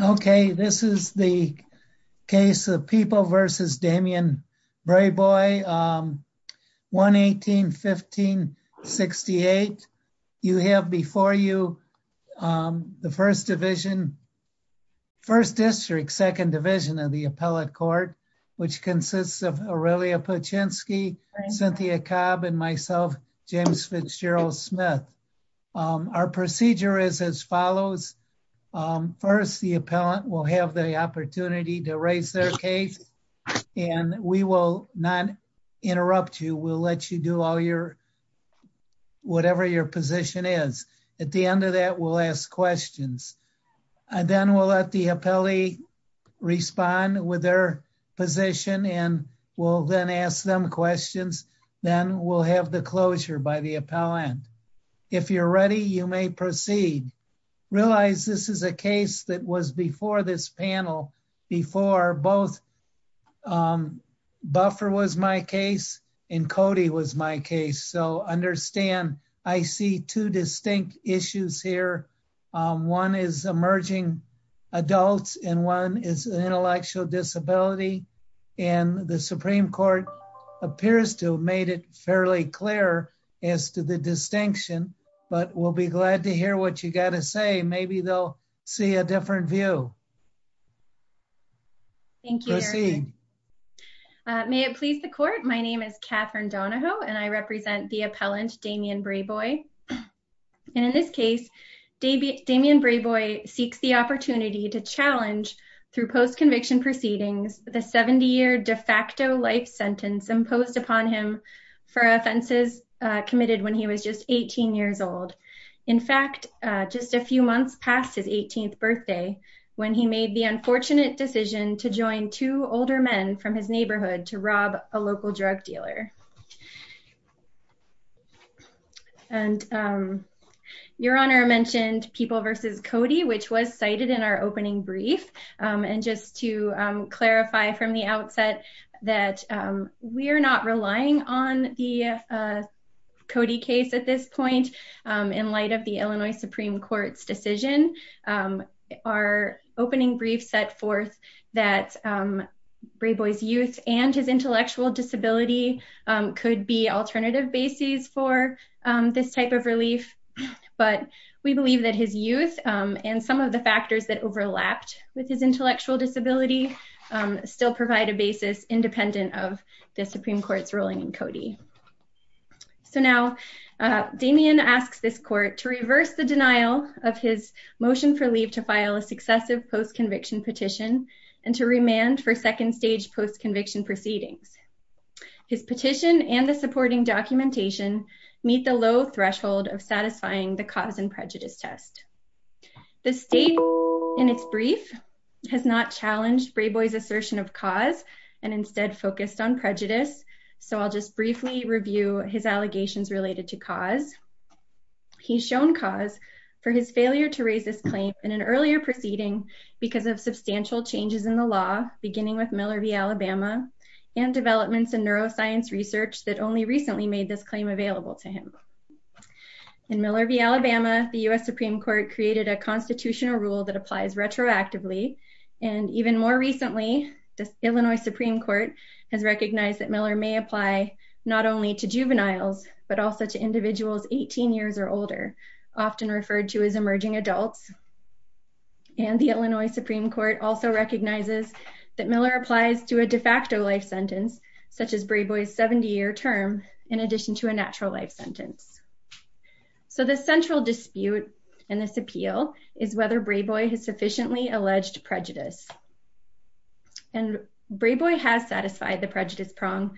Okay, this is the case of People v. Damien Brayboy, 1-18-1568. You have before you the 1st Division, 1st District, 2nd Division of the Appellate Court, which consists of Aurelia Paczynski, Cynthia Cobb, and myself, James Fitzgerald Smith. Our procedure is as follows. First, the appellant will have the opportunity to raise their case and we will not interrupt you. We'll let you do whatever your position is. At the end of that, we'll ask questions and then we'll let the appellee respond with their position and we'll then ask them questions. Then we'll have the closure by the appellant. If you're ready, you may proceed. Realize this is a case that was before this panel, before both Buffer was my case and Cody was my case, so understand I see two distinct issues here. One is emerging adults and one is intellectual disability and the Supreme Court appears to have made it fairly clear as to the distinction, but we'll be glad to hear what you got to say. Maybe they'll see a different view. Thank you. May it please the Court, my name is Catherine Donahoe and I represent the appellant Damien Brayboy. In this case, Damien Brayboy seeks the opportunity to challenge, through post-conviction proceedings, the 70-year de facto life sentence imposed upon him for offenses committed when he was just 18 years old. In fact, just a few months past his 18th birthday when he made the unfortunate decision to join two older men from his neighborhood to rob a local drug dealer. Your Honor mentioned People v. Cody, which was cited in our opening brief, and just to clarify from the outset that we're not relying on the Cody case at this point in light of the Illinois Supreme Court's decision. Our opening brief set forth that Brayboy's youth and his intellectual disability could be alternative bases for this type of disability. Still provide a basis independent of the Supreme Court's ruling in Cody. So now Damien asks this Court to reverse the denial of his motion for leave to file a successive post-conviction petition and to remand for second stage post-conviction proceedings. His petition and the supporting documentation meet the low threshold of satisfying the cause prejudice test. The state in its brief has not challenged Brayboy's assertion of cause and instead focused on prejudice, so I'll just briefly review his allegations related to cause. He's shown cause for his failure to raise this claim in an earlier proceeding because of substantial changes in the law beginning with Miller v. Alabama and developments in neuroscience research that only recently made this claim available to him. In Miller v. Alabama, the U.S. Supreme Court created a constitutional rule that applies retroactively, and even more recently, the Illinois Supreme Court has recognized that Miller may apply not only to juveniles, but also to individuals 18 years or older, often referred to as emerging adults. And the Illinois Supreme Court also recognizes that Miller applies to a de facto life sentence, such as Brayboy's 70-year term, in addition to a natural life sentence. So the central dispute in this appeal is whether Brayboy has sufficiently alleged prejudice. And Brayboy has satisfied the prejudice prong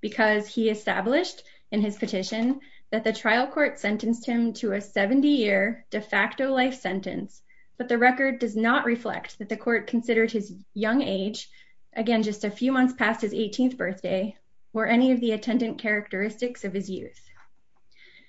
because he established in his petition that the trial court sentenced him to a 70-year de facto life sentence, but the record does not reflect that the court considered his young age, again, just a few months past his 18th birthday, or any of the attendant characteristics of his youth.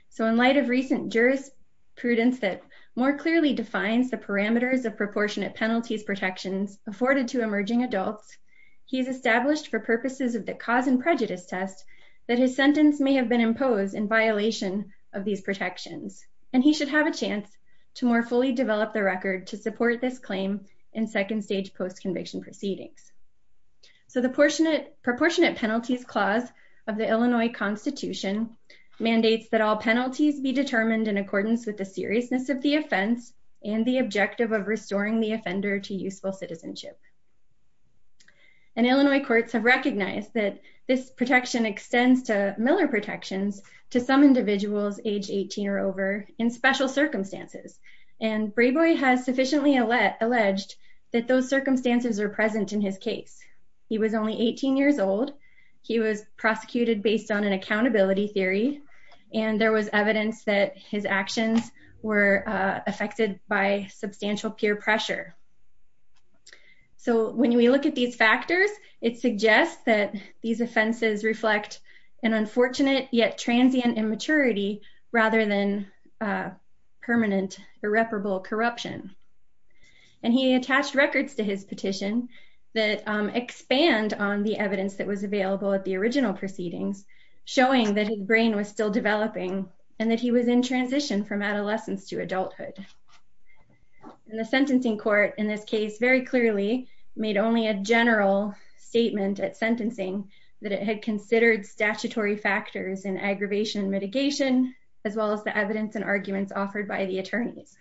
So in light of recent jurisprudence that more clearly defines the parameters of proportionate penalties protections afforded to emerging adults, he's established for purposes of the cause and prejudice test that his sentence may have been imposed in violation of these protections. And he should have a chance to more fully develop the record to support this claim in second stage post conviction proceedings. So the proportionate penalties clause of the Illinois Constitution mandates that all penalties be determined in accordance with the seriousness of the offense and the objective of restoring the offender to useful citizenship. And Illinois courts have recognized that this protection extends to Miller protections to some individuals age 18 or over in special circumstances. And Brayboy has sufficiently alleged that those circumstances are present in his case. He was only 18 years old. He was prosecuted based on an accountability theory. And there was evidence that his actions were affected by substantial peer pressure. So when we look at these factors, it suggests that these offenses reflect an unfortunate yet transient immaturity rather than permanent irreparable corruption. And he attached records to his petition that expand on the evidence that was available at the original proceedings, showing that his brain was still developing and that he was in transition from adolescence to adulthood. And the sentencing court in this case very clearly made only a statutory factors in aggravation and mitigation, as well as the evidence and arguments offered by the attorneys.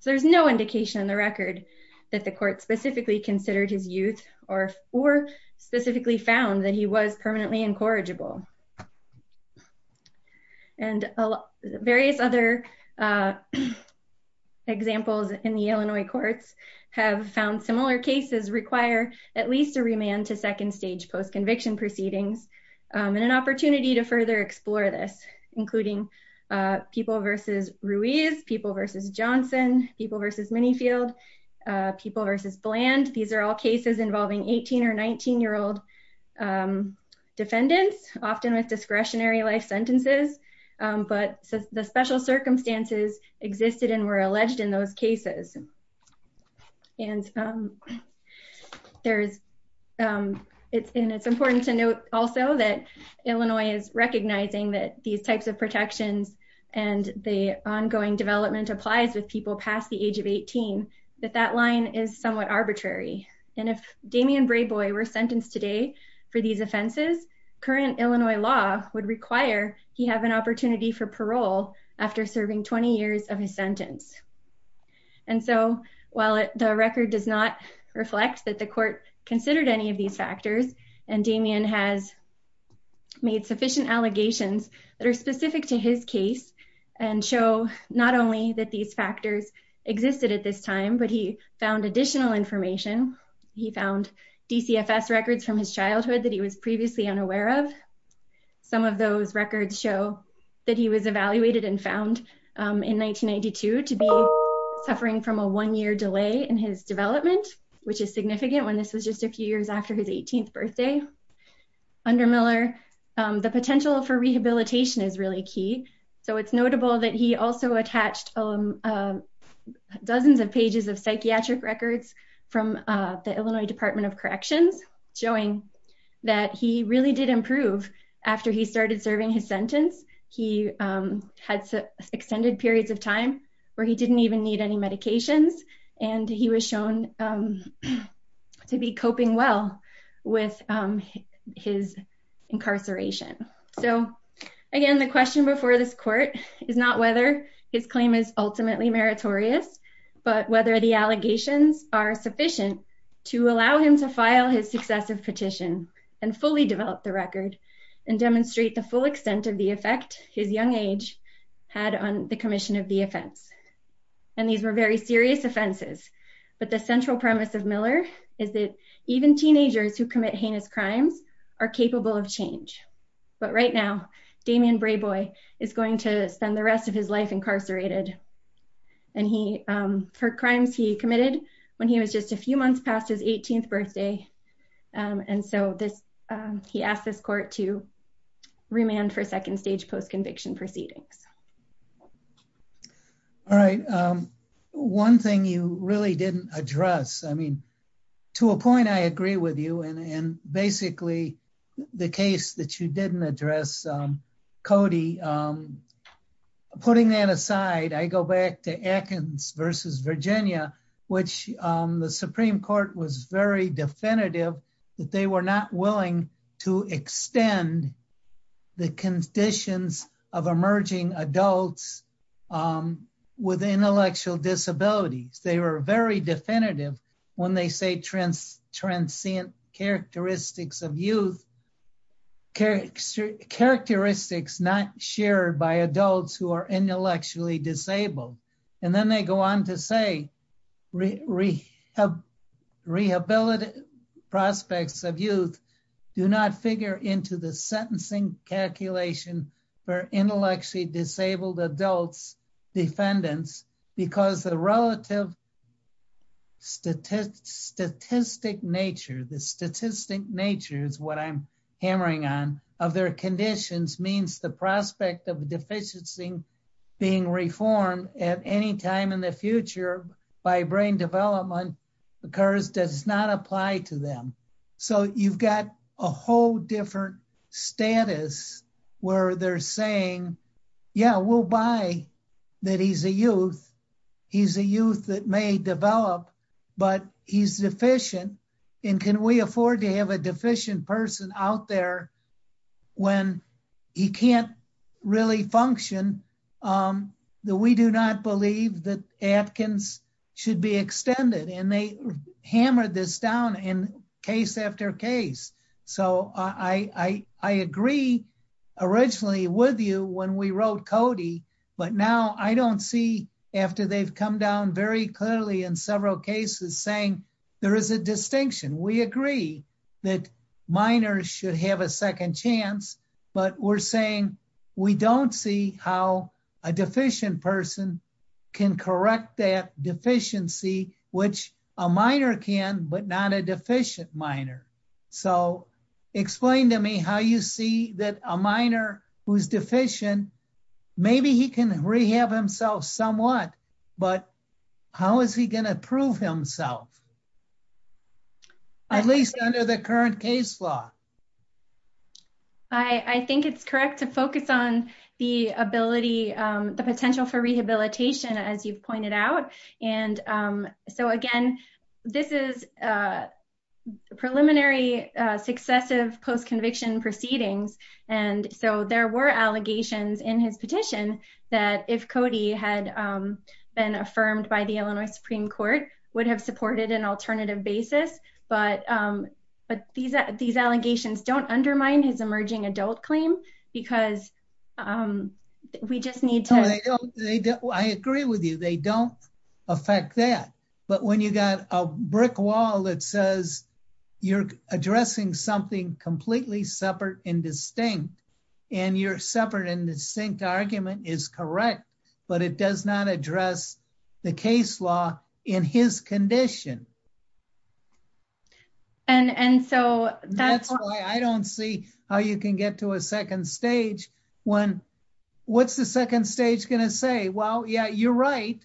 So there's no indication in the record that the court specifically considered his youth or specifically found that he was permanently incorrigible. And various other examples in the Illinois courts have found similar cases require at least a remand to and an opportunity to further explore this, including people versus Ruiz, people versus Johnson, people versus Manyfield, people versus Bland. These are all cases involving 18 or 19 year old defendants, often with discretionary life sentences. But the special circumstances existed and were alleged in those cases. And it's important to note also that Illinois is recognizing that these types of protections, and the ongoing development applies with people past the age of 18, that that line is somewhat arbitrary. And if Damien Brayboy were sentenced today for these offenses, current Illinois law would require he have an opportunity for parole after serving 20 years of his sentence. And so while the record does not reflect that the court considered any of these factors, and Damien has made sufficient allegations that are specific to his case, and show not only that these factors existed at this time, but he found additional information. He found DCFS records from his childhood that he was previously unaware of. Some of those records show that he was evaluated and found in 1992 to be suffering from a one year delay in his development, which is significant when this was just a few years after his 18th birthday. Under Miller, the potential for rehabilitation is really key. So it's notable that he also attached dozens of pages of psychiatric records from the Illinois Department of Corrections, showing that he really did improve after he started serving his sentence. He had extended periods of time where he didn't even need any medications, and he was shown to be coping well with his incarceration. So, again, the question before this court is not whether his claim is ultimately meritorious, but whether the allegations are sufficient to allow him to file his successive petition and fully develop the record and demonstrate the full extent of the effect his young age had on the commission of the offense. And these were very serious offenses, but the central premise of Miller is that even teenagers who commit heinous crimes are capable of change. But right now, Damien Brayboy is going to spend the rest of his life incarcerated for crimes he committed when he was just a few months past his 18th birthday. And so he asked this court to remand for second stage post-conviction proceedings. All right. One thing you really didn't address, I mean, to a point I agree with you, and basically the case that you didn't address, Cody, putting that aside, I go back to Atkins versus Virginia, which the Supreme Court was very definitive that they were not willing to extend the conditions of emerging adults with intellectual disabilities. They were very definitive when they say transient characteristics of youth, characteristics not shared by adults who are intellectually disabled. And then they go on to say rehabilitative prospects of youth do not figure into the sentencing calculation for intellectually disabled adults defendants because the relative statistic nature, the statistic nature is what I'm hammering on, of their conditions means the prospect of a deficiency being reformed at any time in the future by brain development occurs does not apply to them. So you've got a whole different status where they're saying, yeah, we'll buy that he's a youth. He's a youth that may develop, but he's deficient. And can we afford to have a deficient person out there when he can't really function? We do not believe that Atkins should be extended. And they originally with you when we wrote Cody, but now I don't see after they've come down very clearly in several cases saying there is a distinction. We agree that minors should have a second chance, but we're saying we don't see how a deficient person can correct that deficiency, which a minor can, but not a deficient minor. So explain to me how you see that a minor who's deficient, maybe he can rehab himself somewhat, but how is he going to prove himself at least under the current case law? I think it's correct to focus on the ability, the potential for rehabilitation, as you've pointed out. And so again, this is a preliminary successive post-conviction proceedings. And so there were allegations in his petition that if Cody had been affirmed by the Illinois Supreme Court would have supported an alternative basis. But these allegations don't undermine his emerging adult claim because I agree with you, they don't affect that. But when you got a brick wall that says you're addressing something completely separate and distinct, and your separate and distinct argument is correct, but it does not address the case law in his condition. And so that's why I don't see how you can get to a second stage when what's the second stage going to say? Well, yeah, you're right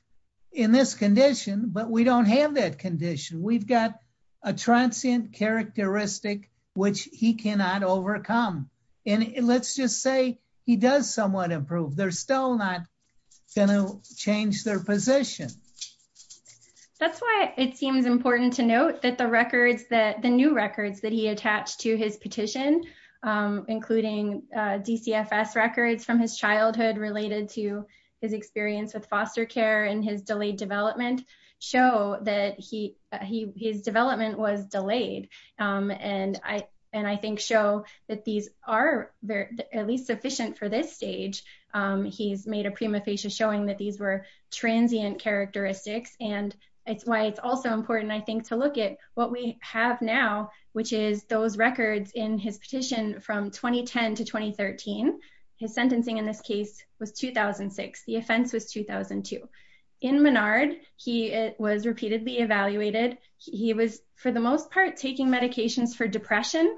in this condition, but we don't have that condition. We've got a transient characteristic, which he cannot overcome. And let's just say he does somewhat improve. They're still not going to change their position. That's why it seems important to note that the new records that he attached to his petition, including DCFS records from his childhood related to his experience with foster care and his delayed development, show that his development was delayed. And I think show that these are at least sufficient for this stage. He's made a prima facie showing that these were transient characteristics. And it's why it's also important, I think, to look at what we have now, which is those records in his petition from 2010 to 2013. His sentencing in this case was 2006. The offense was 2002. In Menard, he was repeatedly evaluated. He was, for the most part, taking medications for depression.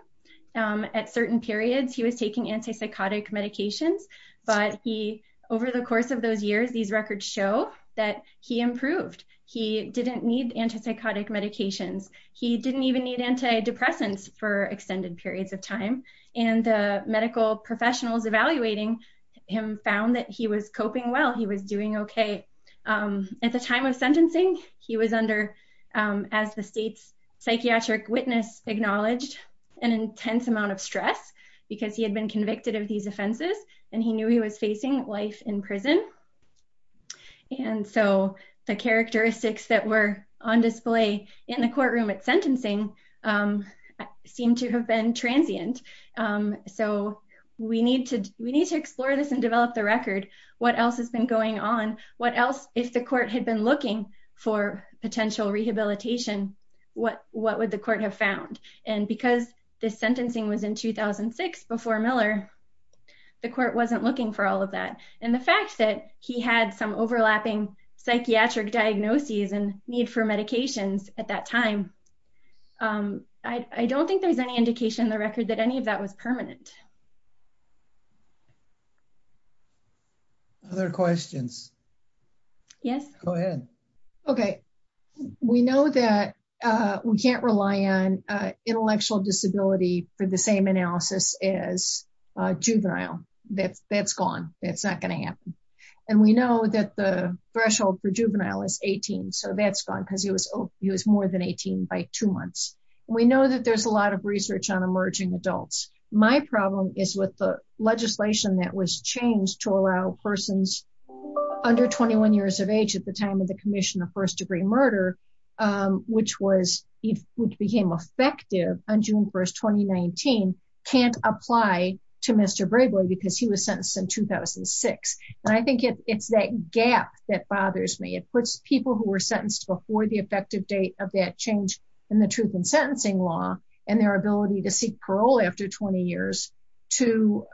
At certain periods, he was taking antipsychotic medications. But he, over the course of those years, these records show that he improved. He didn't need antipsychotic medications. He didn't even need antidepressants for extended periods of time. And the medical professionals evaluating him found that he was coping well. He was doing okay. At the time of sentencing, he was under, as the state's psychiatric witness acknowledged, an intense amount of stress because he had been convicted of these offenses, and he knew he was facing life in prison. And so the characteristics that were on display in the courtroom at sentencing seem to have been transient. So we need to explore this and develop the record. What else has been going on? What else, if the court had been looking for potential rehabilitation, what would the court have found? And because this sentencing was in 2006 before Miller, the court wasn't looking for all of that. And the fact that he had some overlapping psychiatric diagnoses and need for medications at that time, I don't think there's any indication in the record that any of that was permanent. Other questions? Yes. Go ahead. Okay. We know that we can't rely on intellectual disability for the same analysis as juvenile. That's gone. That's not going to happen. And we know that the threshold for juvenile is 18. So that's gone because he was more than 18 by two months. We know that there's a lot of research on emerging adults. My problem is with the legislation that was changed to allow persons under 21 years of age, at the time of the commission of first degree murder, which became effective on June 1st, 2019, can't apply to Mr. Brayboy because he was sentenced in 2006. And I think it's that gap that bothers me. It puts people who were sentenced before the effective date of that change in the truth and sentencing law and their ability to seek parole after 20 years to,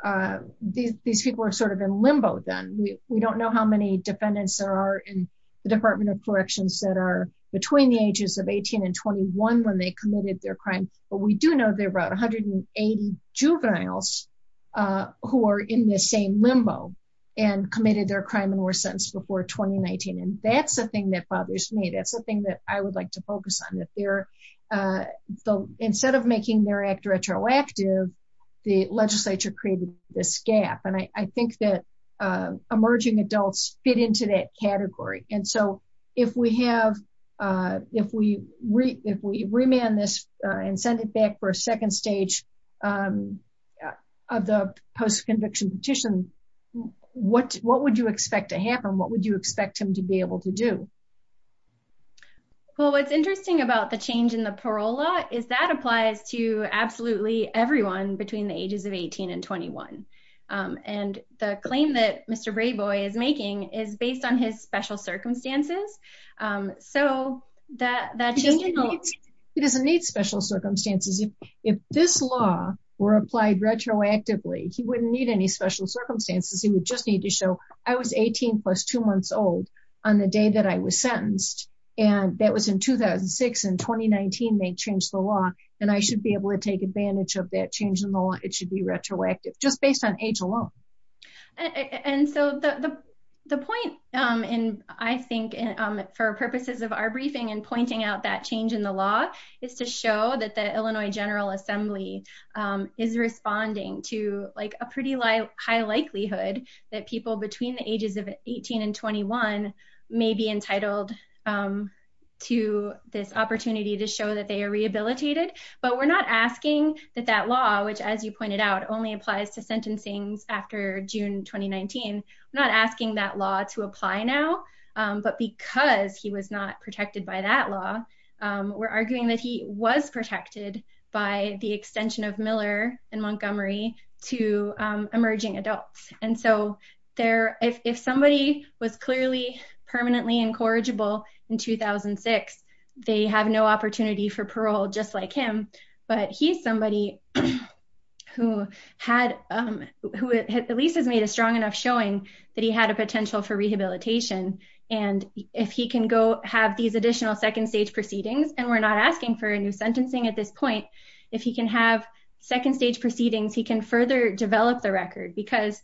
these people are sort of in limbo then. We don't know how many defendants there are in the department of corrections that are between the ages of 18 and 21 when they committed their crime. But we do know there were about 180 juveniles who are in the same limbo and committed their crime in 2019. And that's the thing that bothers me. That's the thing that I would like to focus on. Instead of making their act retroactive, the legislature created this gap. And I think that emerging adults fit into that category. And so if we remand this and send it back for a second stage of the post-conviction petition, what would you expect to happen? What would you expect him to be able to do? Well, what's interesting about the change in the parole law is that applies to absolutely everyone between the ages of 18 and 21. And the claim that Mr. Brayboy is making is based on his special circumstances. He doesn't need special circumstances. If this law were applied retroactively, he wouldn't need any special circumstances. He would just need to show, I was 18 plus two months old on the day that I was sentenced. And that was in 2006 and 2019 they changed the law. And I should be able to take advantage of that change in the law. It should be retroactive just based on age alone. And so the point I think for purposes of our general assembly is responding to a pretty high likelihood that people between the ages of 18 and 21 may be entitled to this opportunity to show that they are rehabilitated. But we're not asking that that law, which as you pointed out, only applies to sentencing after June, 2019. I'm not asking that law to apply now, but because he was not protected by that law, we're arguing that he was protected by the extension of Miller and Montgomery to emerging adults. And so if somebody was clearly permanently incorrigible in 2006, they have no opportunity for parole just like him. But he's somebody who at least has made a strong enough showing that he had a potential for rehabilitation. And if he can go have these additional second stage proceedings, and we're not asking for a new sentencing at this point, if he can have second stage proceedings, he can further develop the record because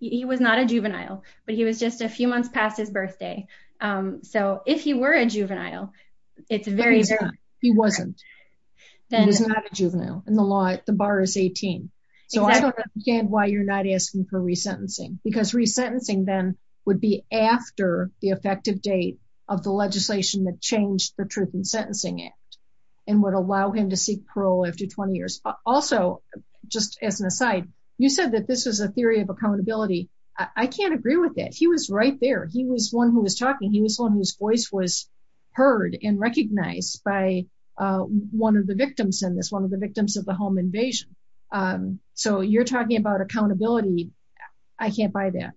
he was not a juvenile, but he was just a few months past his birthday. So if he were a juvenile, it's very, he wasn't, then he's not a juvenile in the law, the bar is 18. So I don't understand why you're not asking for resentencing, because resentencing then would be after the effective date of the legislation that changed the Truth in Sentencing Act, and would allow him to seek parole after 20 years. Also, just as an aside, you said that this was a theory of accountability. I can't agree with it. He was right there. He was one who was talking. He was one whose voice was heard and recognized by one of the victims in this, one of the victims of the home invasion. So you're talking about accountability. I can't buy that.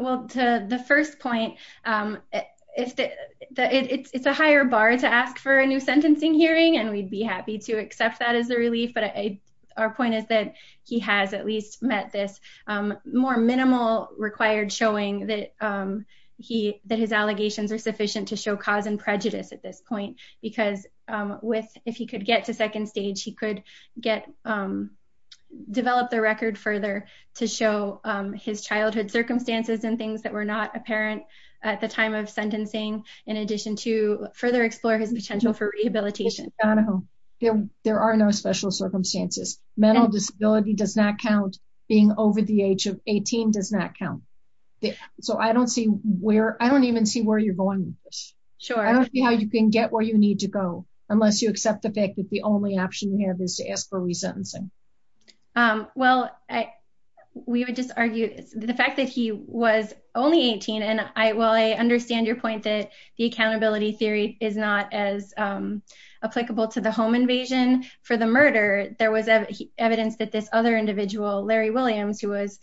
Well, to the first point, it's a higher bar to ask for a new sentencing hearing, and we'd be happy to accept that as a relief. But our point is that he has at least met this more minimal required showing that he, that his allegations are sufficient to show cause and prejudice at this point. Because with, if he could get to second stage, he could get, develop the record further to show his childhood circumstances and things that were not apparent at the time of sentencing, in addition to further explore his potential for rehabilitation. There are no special circumstances. Mental disability does not count. Being over the age of 18 does not count. So I don't see where, I don't even see where you're going with this. I don't see how you can get where you need to go, unless you accept the only option you have is to ask for resentencing. Well, we would just argue the fact that he was only 18, and I, while I understand your point that the accountability theory is not as applicable to the home invasion for the murder, there was evidence that this other individual, Larry Williams, who was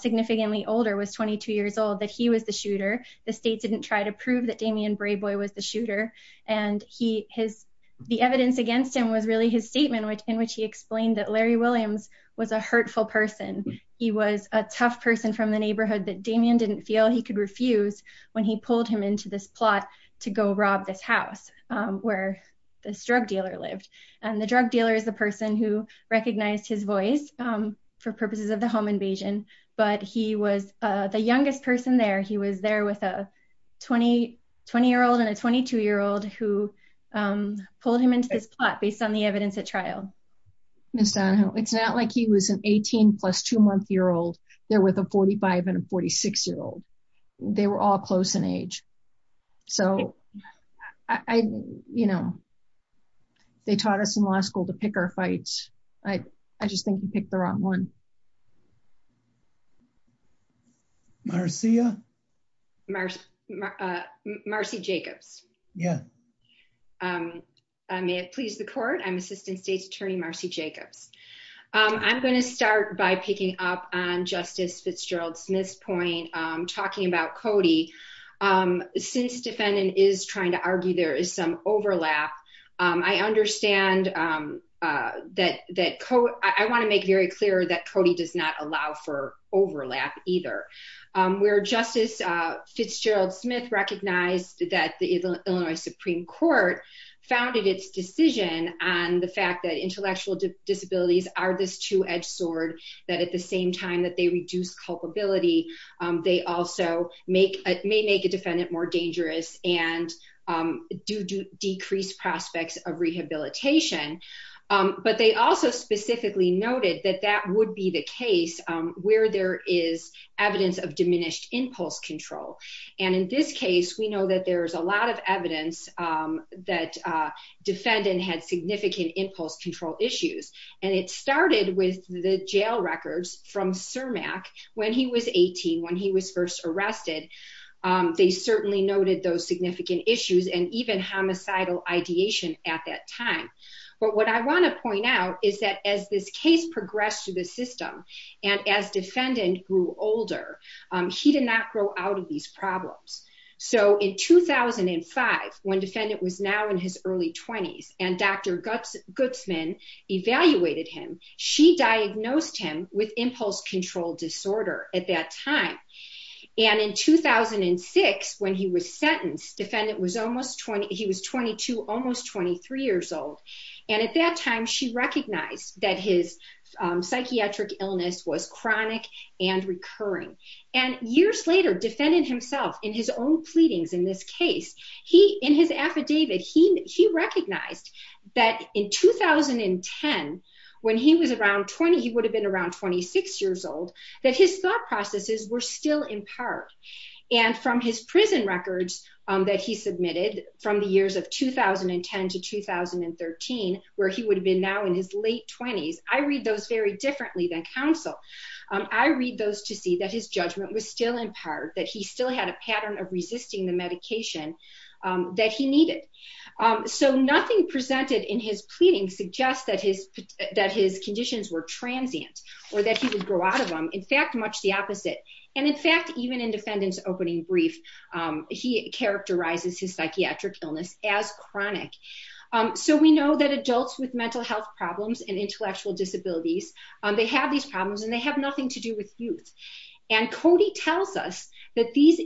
significantly older, was 22 years old, that he was the shooter. The state didn't try to prove that Damien Brayboy was the shooter. And he, his, the evidence against him was really his statement, which, in which he explained that Larry Williams was a hurtful person. He was a tough person from the neighborhood that Damien didn't feel he could refuse when he pulled him into this plot to go rob this house, where this drug dealer lived. And the drug dealer is the person who recognized his voice for purposes of the home invasion. But he was the youngest person there. He was there with a 20, 20-year-old and a 22-year-old who pulled him into this plot based on the evidence at trial. Ms. Donahoe, it's not like he was an 18 plus two-month-year-old there with a 45 and a 46-year-old. They were all close in age. So I, you know, they taught us in law school to I, I just think you picked the wrong one. Marcia? Marcia Jacobs. Yeah. I may have pleased the court. I'm Assistant State's Attorney Marcia Jacobs. I'm going to start by picking up on Justice Fitzgerald-Smith's point, talking about Cody. Since defendant is trying to argue there is some overlap, I understand that, that Co, I want to make very clear that Cody does not allow for overlap either. Where Justice Fitzgerald-Smith recognized that the Illinois Supreme Court founded its decision on the fact that intellectual disabilities are this two-edged sword, that at the same time that they reduce culpability, they also make, may make a defendant more dangerous and do, do decrease prospects of rehabilitation. But they also specifically noted that that would be the case where there is evidence of diminished impulse control. And in this case, we know that there's a lot of evidence that defendant had significant impulse control issues. And it started with the jail records from CIRMAC when he was 18, when he was first arrested. They certainly noted those significant issues and even homicidal ideation at that time. But what I want to point out is that as this case progressed through the system and as defendant grew older, he did not grow out of these problems. So in 2005, when defendant was now in his early twenties and Dr. Gutzman evaluated him, she diagnosed him with impulse control disorder at that time. And in 2006, when he was sentenced, defendant was almost 20, he was 22, almost 23 years old. And at that time, she recognized that his psychiatric illness was chronic and recurring. And years later, defendant himself in his own he would have been around 26 years old, that his thought processes were still in part. And from his prison records that he submitted from the years of 2010 to 2013, where he would have been now in his late twenties, I read those very differently than counsel. I read those to see that his judgment was still in part, that he still had a pattern of resisting the medication that he needed. So nothing presented in his pleading suggests that his conditions were transient or that he would grow out of them. In fact, much the opposite. And in fact, even in defendant's opening brief, he characterizes his psychiatric illness as chronic. So we know that adults with mental health problems and intellectual disabilities, they have these problems and they have nothing to do with youth. And Cody tells us that these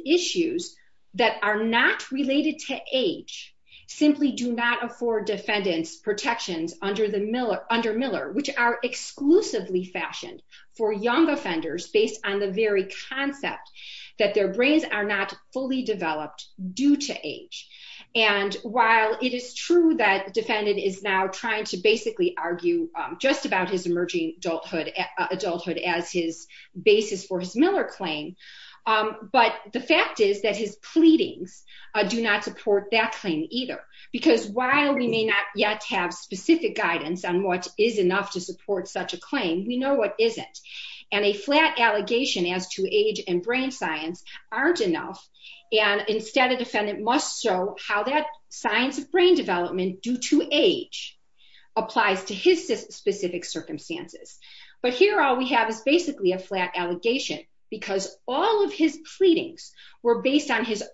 related to age simply do not afford defendants protections under Miller, which are exclusively fashioned for young offenders based on the very concept that their brains are not fully developed due to age. And while it is true that defendant is now trying to basically argue just about his pleadings, do not support that claim either. Because while we may not yet have specific guidance on what is enough to support such a claim, we know what isn't. And a flat allegation as to age and brain science aren't enough. And instead of defendant must show how that science of brain development due to age applies to his specific circumstances. But here, all we have is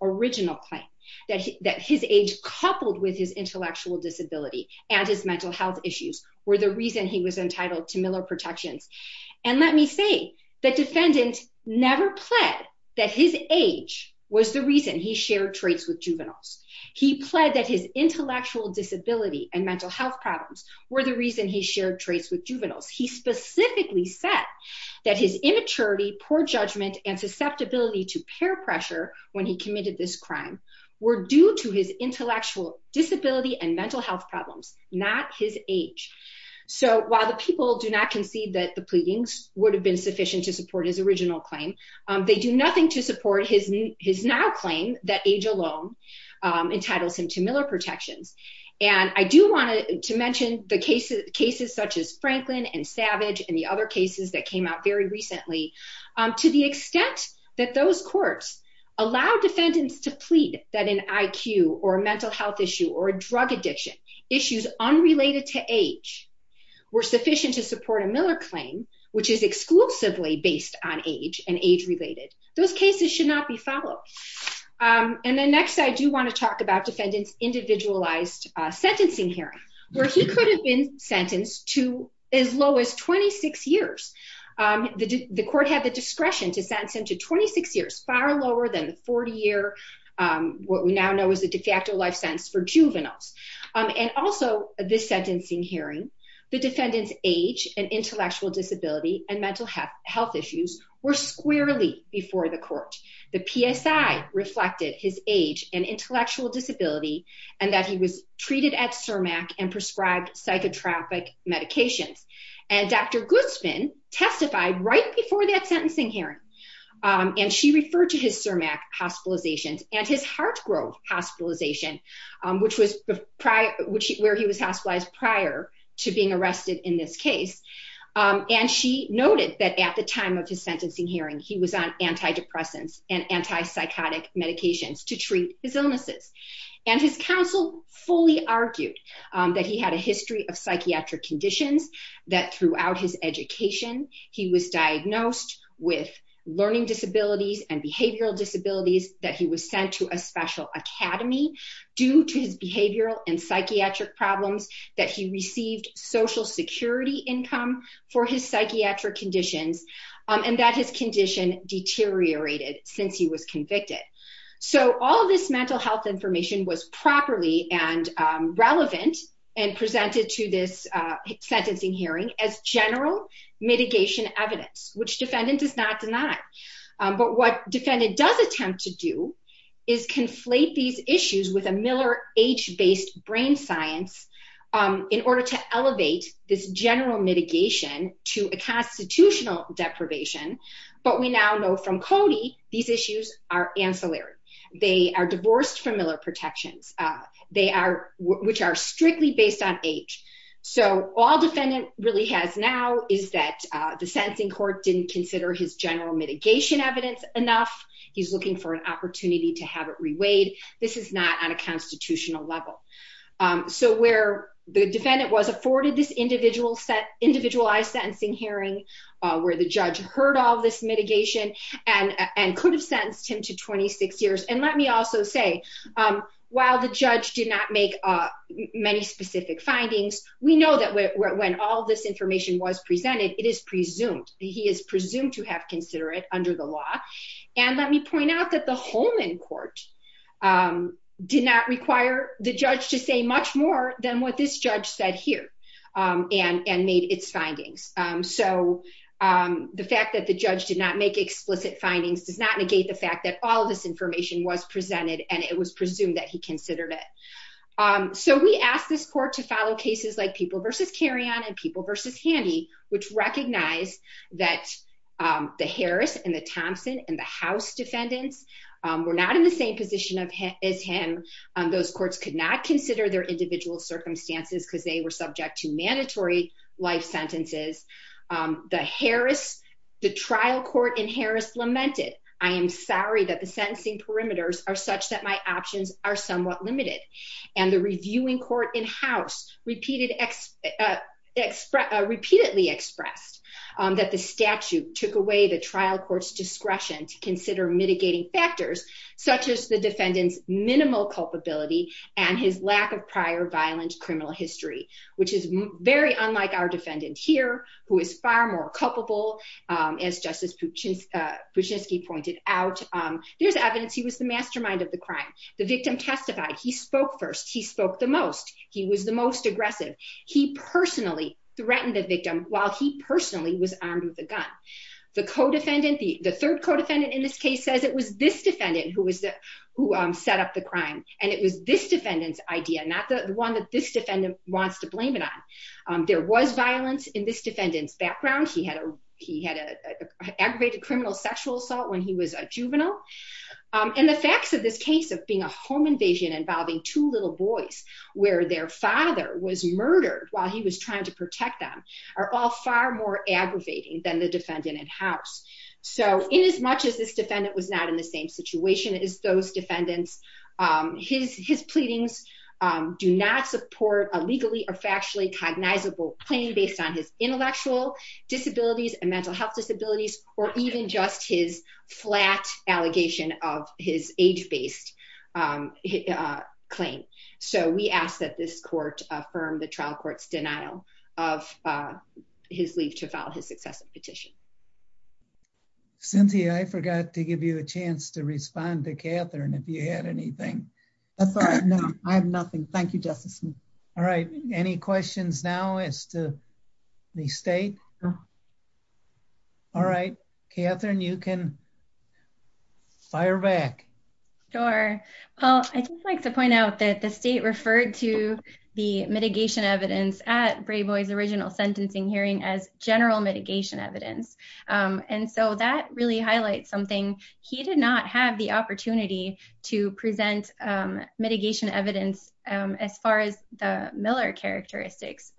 original claim that his age coupled with his intellectual disability and his mental health issues were the reason he was entitled to Miller protections. And let me say that defendant never pled that his age was the reason he shared traits with juveniles. He pled that his intellectual disability and mental health problems were the reason he shared traits with juveniles. He specifically said that his immaturity, poor judgment and susceptibility to peer pressure when he committed this crime were due to his intellectual disability and mental health problems, not his age. So while the people do not concede that the pleadings would have been sufficient to support his original claim, they do nothing to support his now claim that age alone entitles him to Miller protections. And I do want to mention the cases such as Franklin and Savage and the other cases that came out very recently to the extent that those courts allow defendants to plead that an IQ or a mental health issue or a drug addiction issues unrelated to age were sufficient to support a Miller claim, which is exclusively based on age and age-related. Those cases should not be followed. And then next, I do want to talk about defendant's individualized sentencing hearing where he could have been sentenced to as low as 26 years. The court had the discretion to sentence him to 26 years, far lower than the 40-year, what we now know is a de facto life sentence for juveniles. And also this sentencing hearing, the defendant's age and intellectual disability and mental health issues were squarely before the court. The PSI reflected his age and intellectual disability and that he was treated at CIRMAC and prescribed psychotropic medications. And Dr. Guzman testified right before that sentencing hearing. And she referred to his CIRMAC hospitalizations and his heart growth hospitalization, which was where he was hospitalized prior to being arrested in this case. And she noted that at the time of his sentencing hearing, he was on antidepressants and antipsychotic medications to treat his illnesses. And his counsel fully argued that he had a history of psychiatric conditions, that throughout his education, he was diagnosed with learning disabilities and behavioral disabilities, that he was sent to a special academy due to his behavioral and psychiatric problems, that he deteriorated since he was convicted. So all of this mental health information was properly and relevant and presented to this sentencing hearing as general mitigation evidence, which defendant does not deny. But what defendant does attempt to do is conflate these issues with a Miller age-based brain science in order to elevate this general mitigation to a constitutional deprivation, but we now know from Cody, these issues are ancillary. They are divorced from Miller protections, which are strictly based on age. So all defendant really has now is that the sentencing court didn't consider his general mitigation evidence enough. He's looking for an opportunity to have it reweighed. This is not on a constitutional level. So where the defendant was afforded this individualized sentencing hearing, where the judge heard all of this mitigation and could have sentenced him to 26 years. And let me also say, while the judge did not make many specific findings, we know that when all of this information was presented, it is presumed. He is presumed to have considered it under the law. And let me point out that the and made its findings. So the fact that the judge did not make explicit findings, does not negate the fact that all of this information was presented and it was presumed that he considered it. So we asked this court to follow cases like people versus carry on and people versus handy, which recognize that the Harris and the Thompson and the house defendants were not in the same position as him. Those courts could not consider their individual circumstances because they were subject to mandatory life sentences. The Harris, the trial court in Harris lamented, I am sorry that the sentencing perimeters are such that my options are somewhat limited. And the reviewing court in house repeatedly expressed that the statute took away the trial court's discretion to consider mitigating factors, such as the defendant's lack of prior violent criminal history, which is very unlike our defendant here, who is far more culpable. As Justice Puchinski pointed out, there's evidence he was the mastermind of the crime, the victim testified, he spoke first, he spoke the most, he was the most aggressive, he personally threatened the victim while he personally was armed with a gun. The co defendant, the third co defendant in this case says it was this defendant who was the, who set up the crime. And it was this defendant's idea, not the one that this defendant wants to blame it on. There was violence in this defendant's background. He had a, he had a aggravated criminal sexual assault when he was a juvenile. And the facts of this case of being a home invasion involving two little boys, where their father was murdered while he was trying to protect them are all far more aggravating than the defendant in house. So in as much as this defendant was in the same situation as those defendants, his his pleadings do not support a legally or factually cognizable claim based on his intellectual disabilities and mental health disabilities, or even just his flat allegation of his age based claim. So we ask that this court affirm the trial court's denial of his leave to file his successive petition. Cynthia, I forgot to give you a chance to respond to Catherine, if you had anything. That's all right. No, I have nothing. Thank you, Justice. All right. Any questions now as to the state? All right, Catherine, you can fire back. Sure. Well, I just like to point out that the state referred to the mitigation evidence at And so that really highlights something. He did not have the opportunity to present mitigation evidence. As far as the Miller characteristics,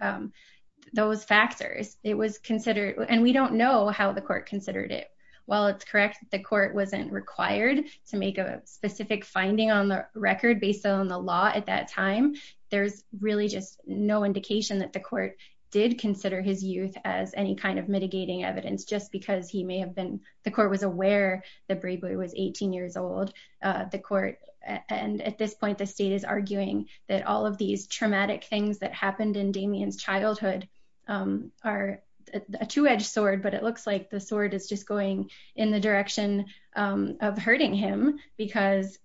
those factors, it was considered and we don't know how the court considered it. While it's correct, the court wasn't required to make a specific finding on the record based on the law at that time. There's really just no indication that the court did consider his youth as any kind of mitigating evidence, just because he may have been, the court was aware that Brayboy was 18 years old, the court. And at this point, the state is arguing that all of these traumatic things that happened in Damien's childhood are a two edged sword, but it looks like the sword is just going in the direction of hurting him because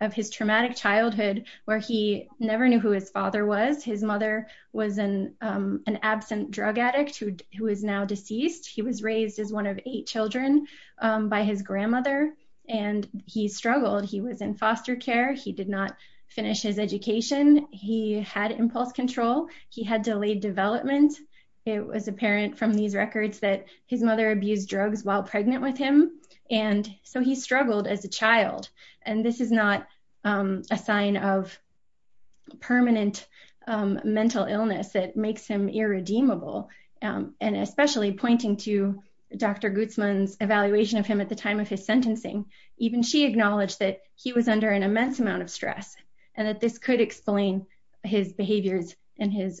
of his traumatic childhood, where he never knew who his father was. His mother was an absent drug addict who is now deceased. He was raised as one of eight children by his grandmother, and he struggled. He was in foster care. He did not finish his education. He had impulse control. He had delayed development. It was apparent from these records that his mother abused drugs while pregnant with him. And so he struggled as a child. And this is not a sign of permanent mental illness that makes him irredeemable. And especially pointing to Dr. Gutzman's evaluation of him at the time of his sentencing. Even she acknowledged that he was under an immense amount of stress, and that this could explain his behaviors and his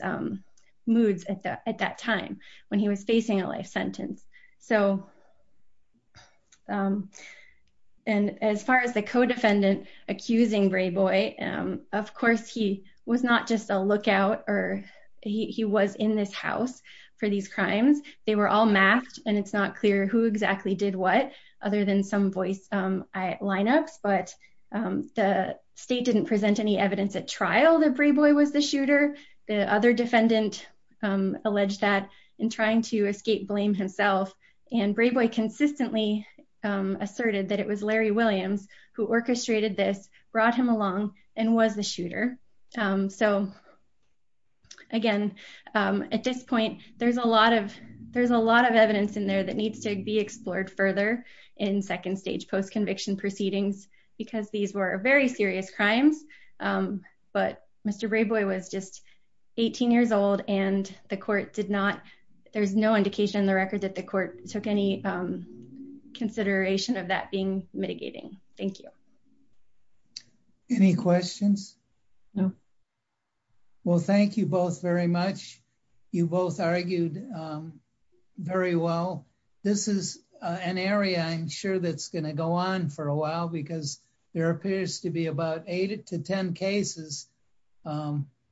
accusing Brayboy. Of course, he was not just a lookout, or he was in this house for these crimes. They were all masked, and it's not clear who exactly did what, other than some voice lineups. But the state didn't present any evidence at trial that Brayboy was the shooter. The other defendant alleged that in trying to escape blame himself. And Brayboy consistently asserted that it was Larry Williams who orchestrated this, brought him along, and was the shooter. So again, at this point, there's a lot of evidence in there that needs to be explored further in second stage post-conviction proceedings, because these were very serious crimes. But Mr. Brayboy was just 18 years old, and the court did not, there's no indication in the Thank you. Any questions? No. Well, thank you both very much. You both argued very well. This is an area I'm sure that's going to go on for a while, because there appears to be about eight to ten cases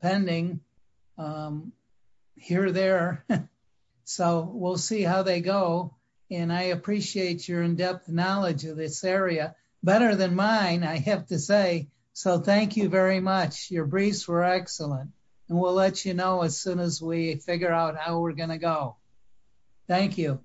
pending here or there. So we'll see how they go. And I appreciate your in-depth knowledge of this area better than mine, I have to say. So thank you very much. Your briefs were excellent, and we'll let you know as soon as we figure out how we're going to go. Thank you.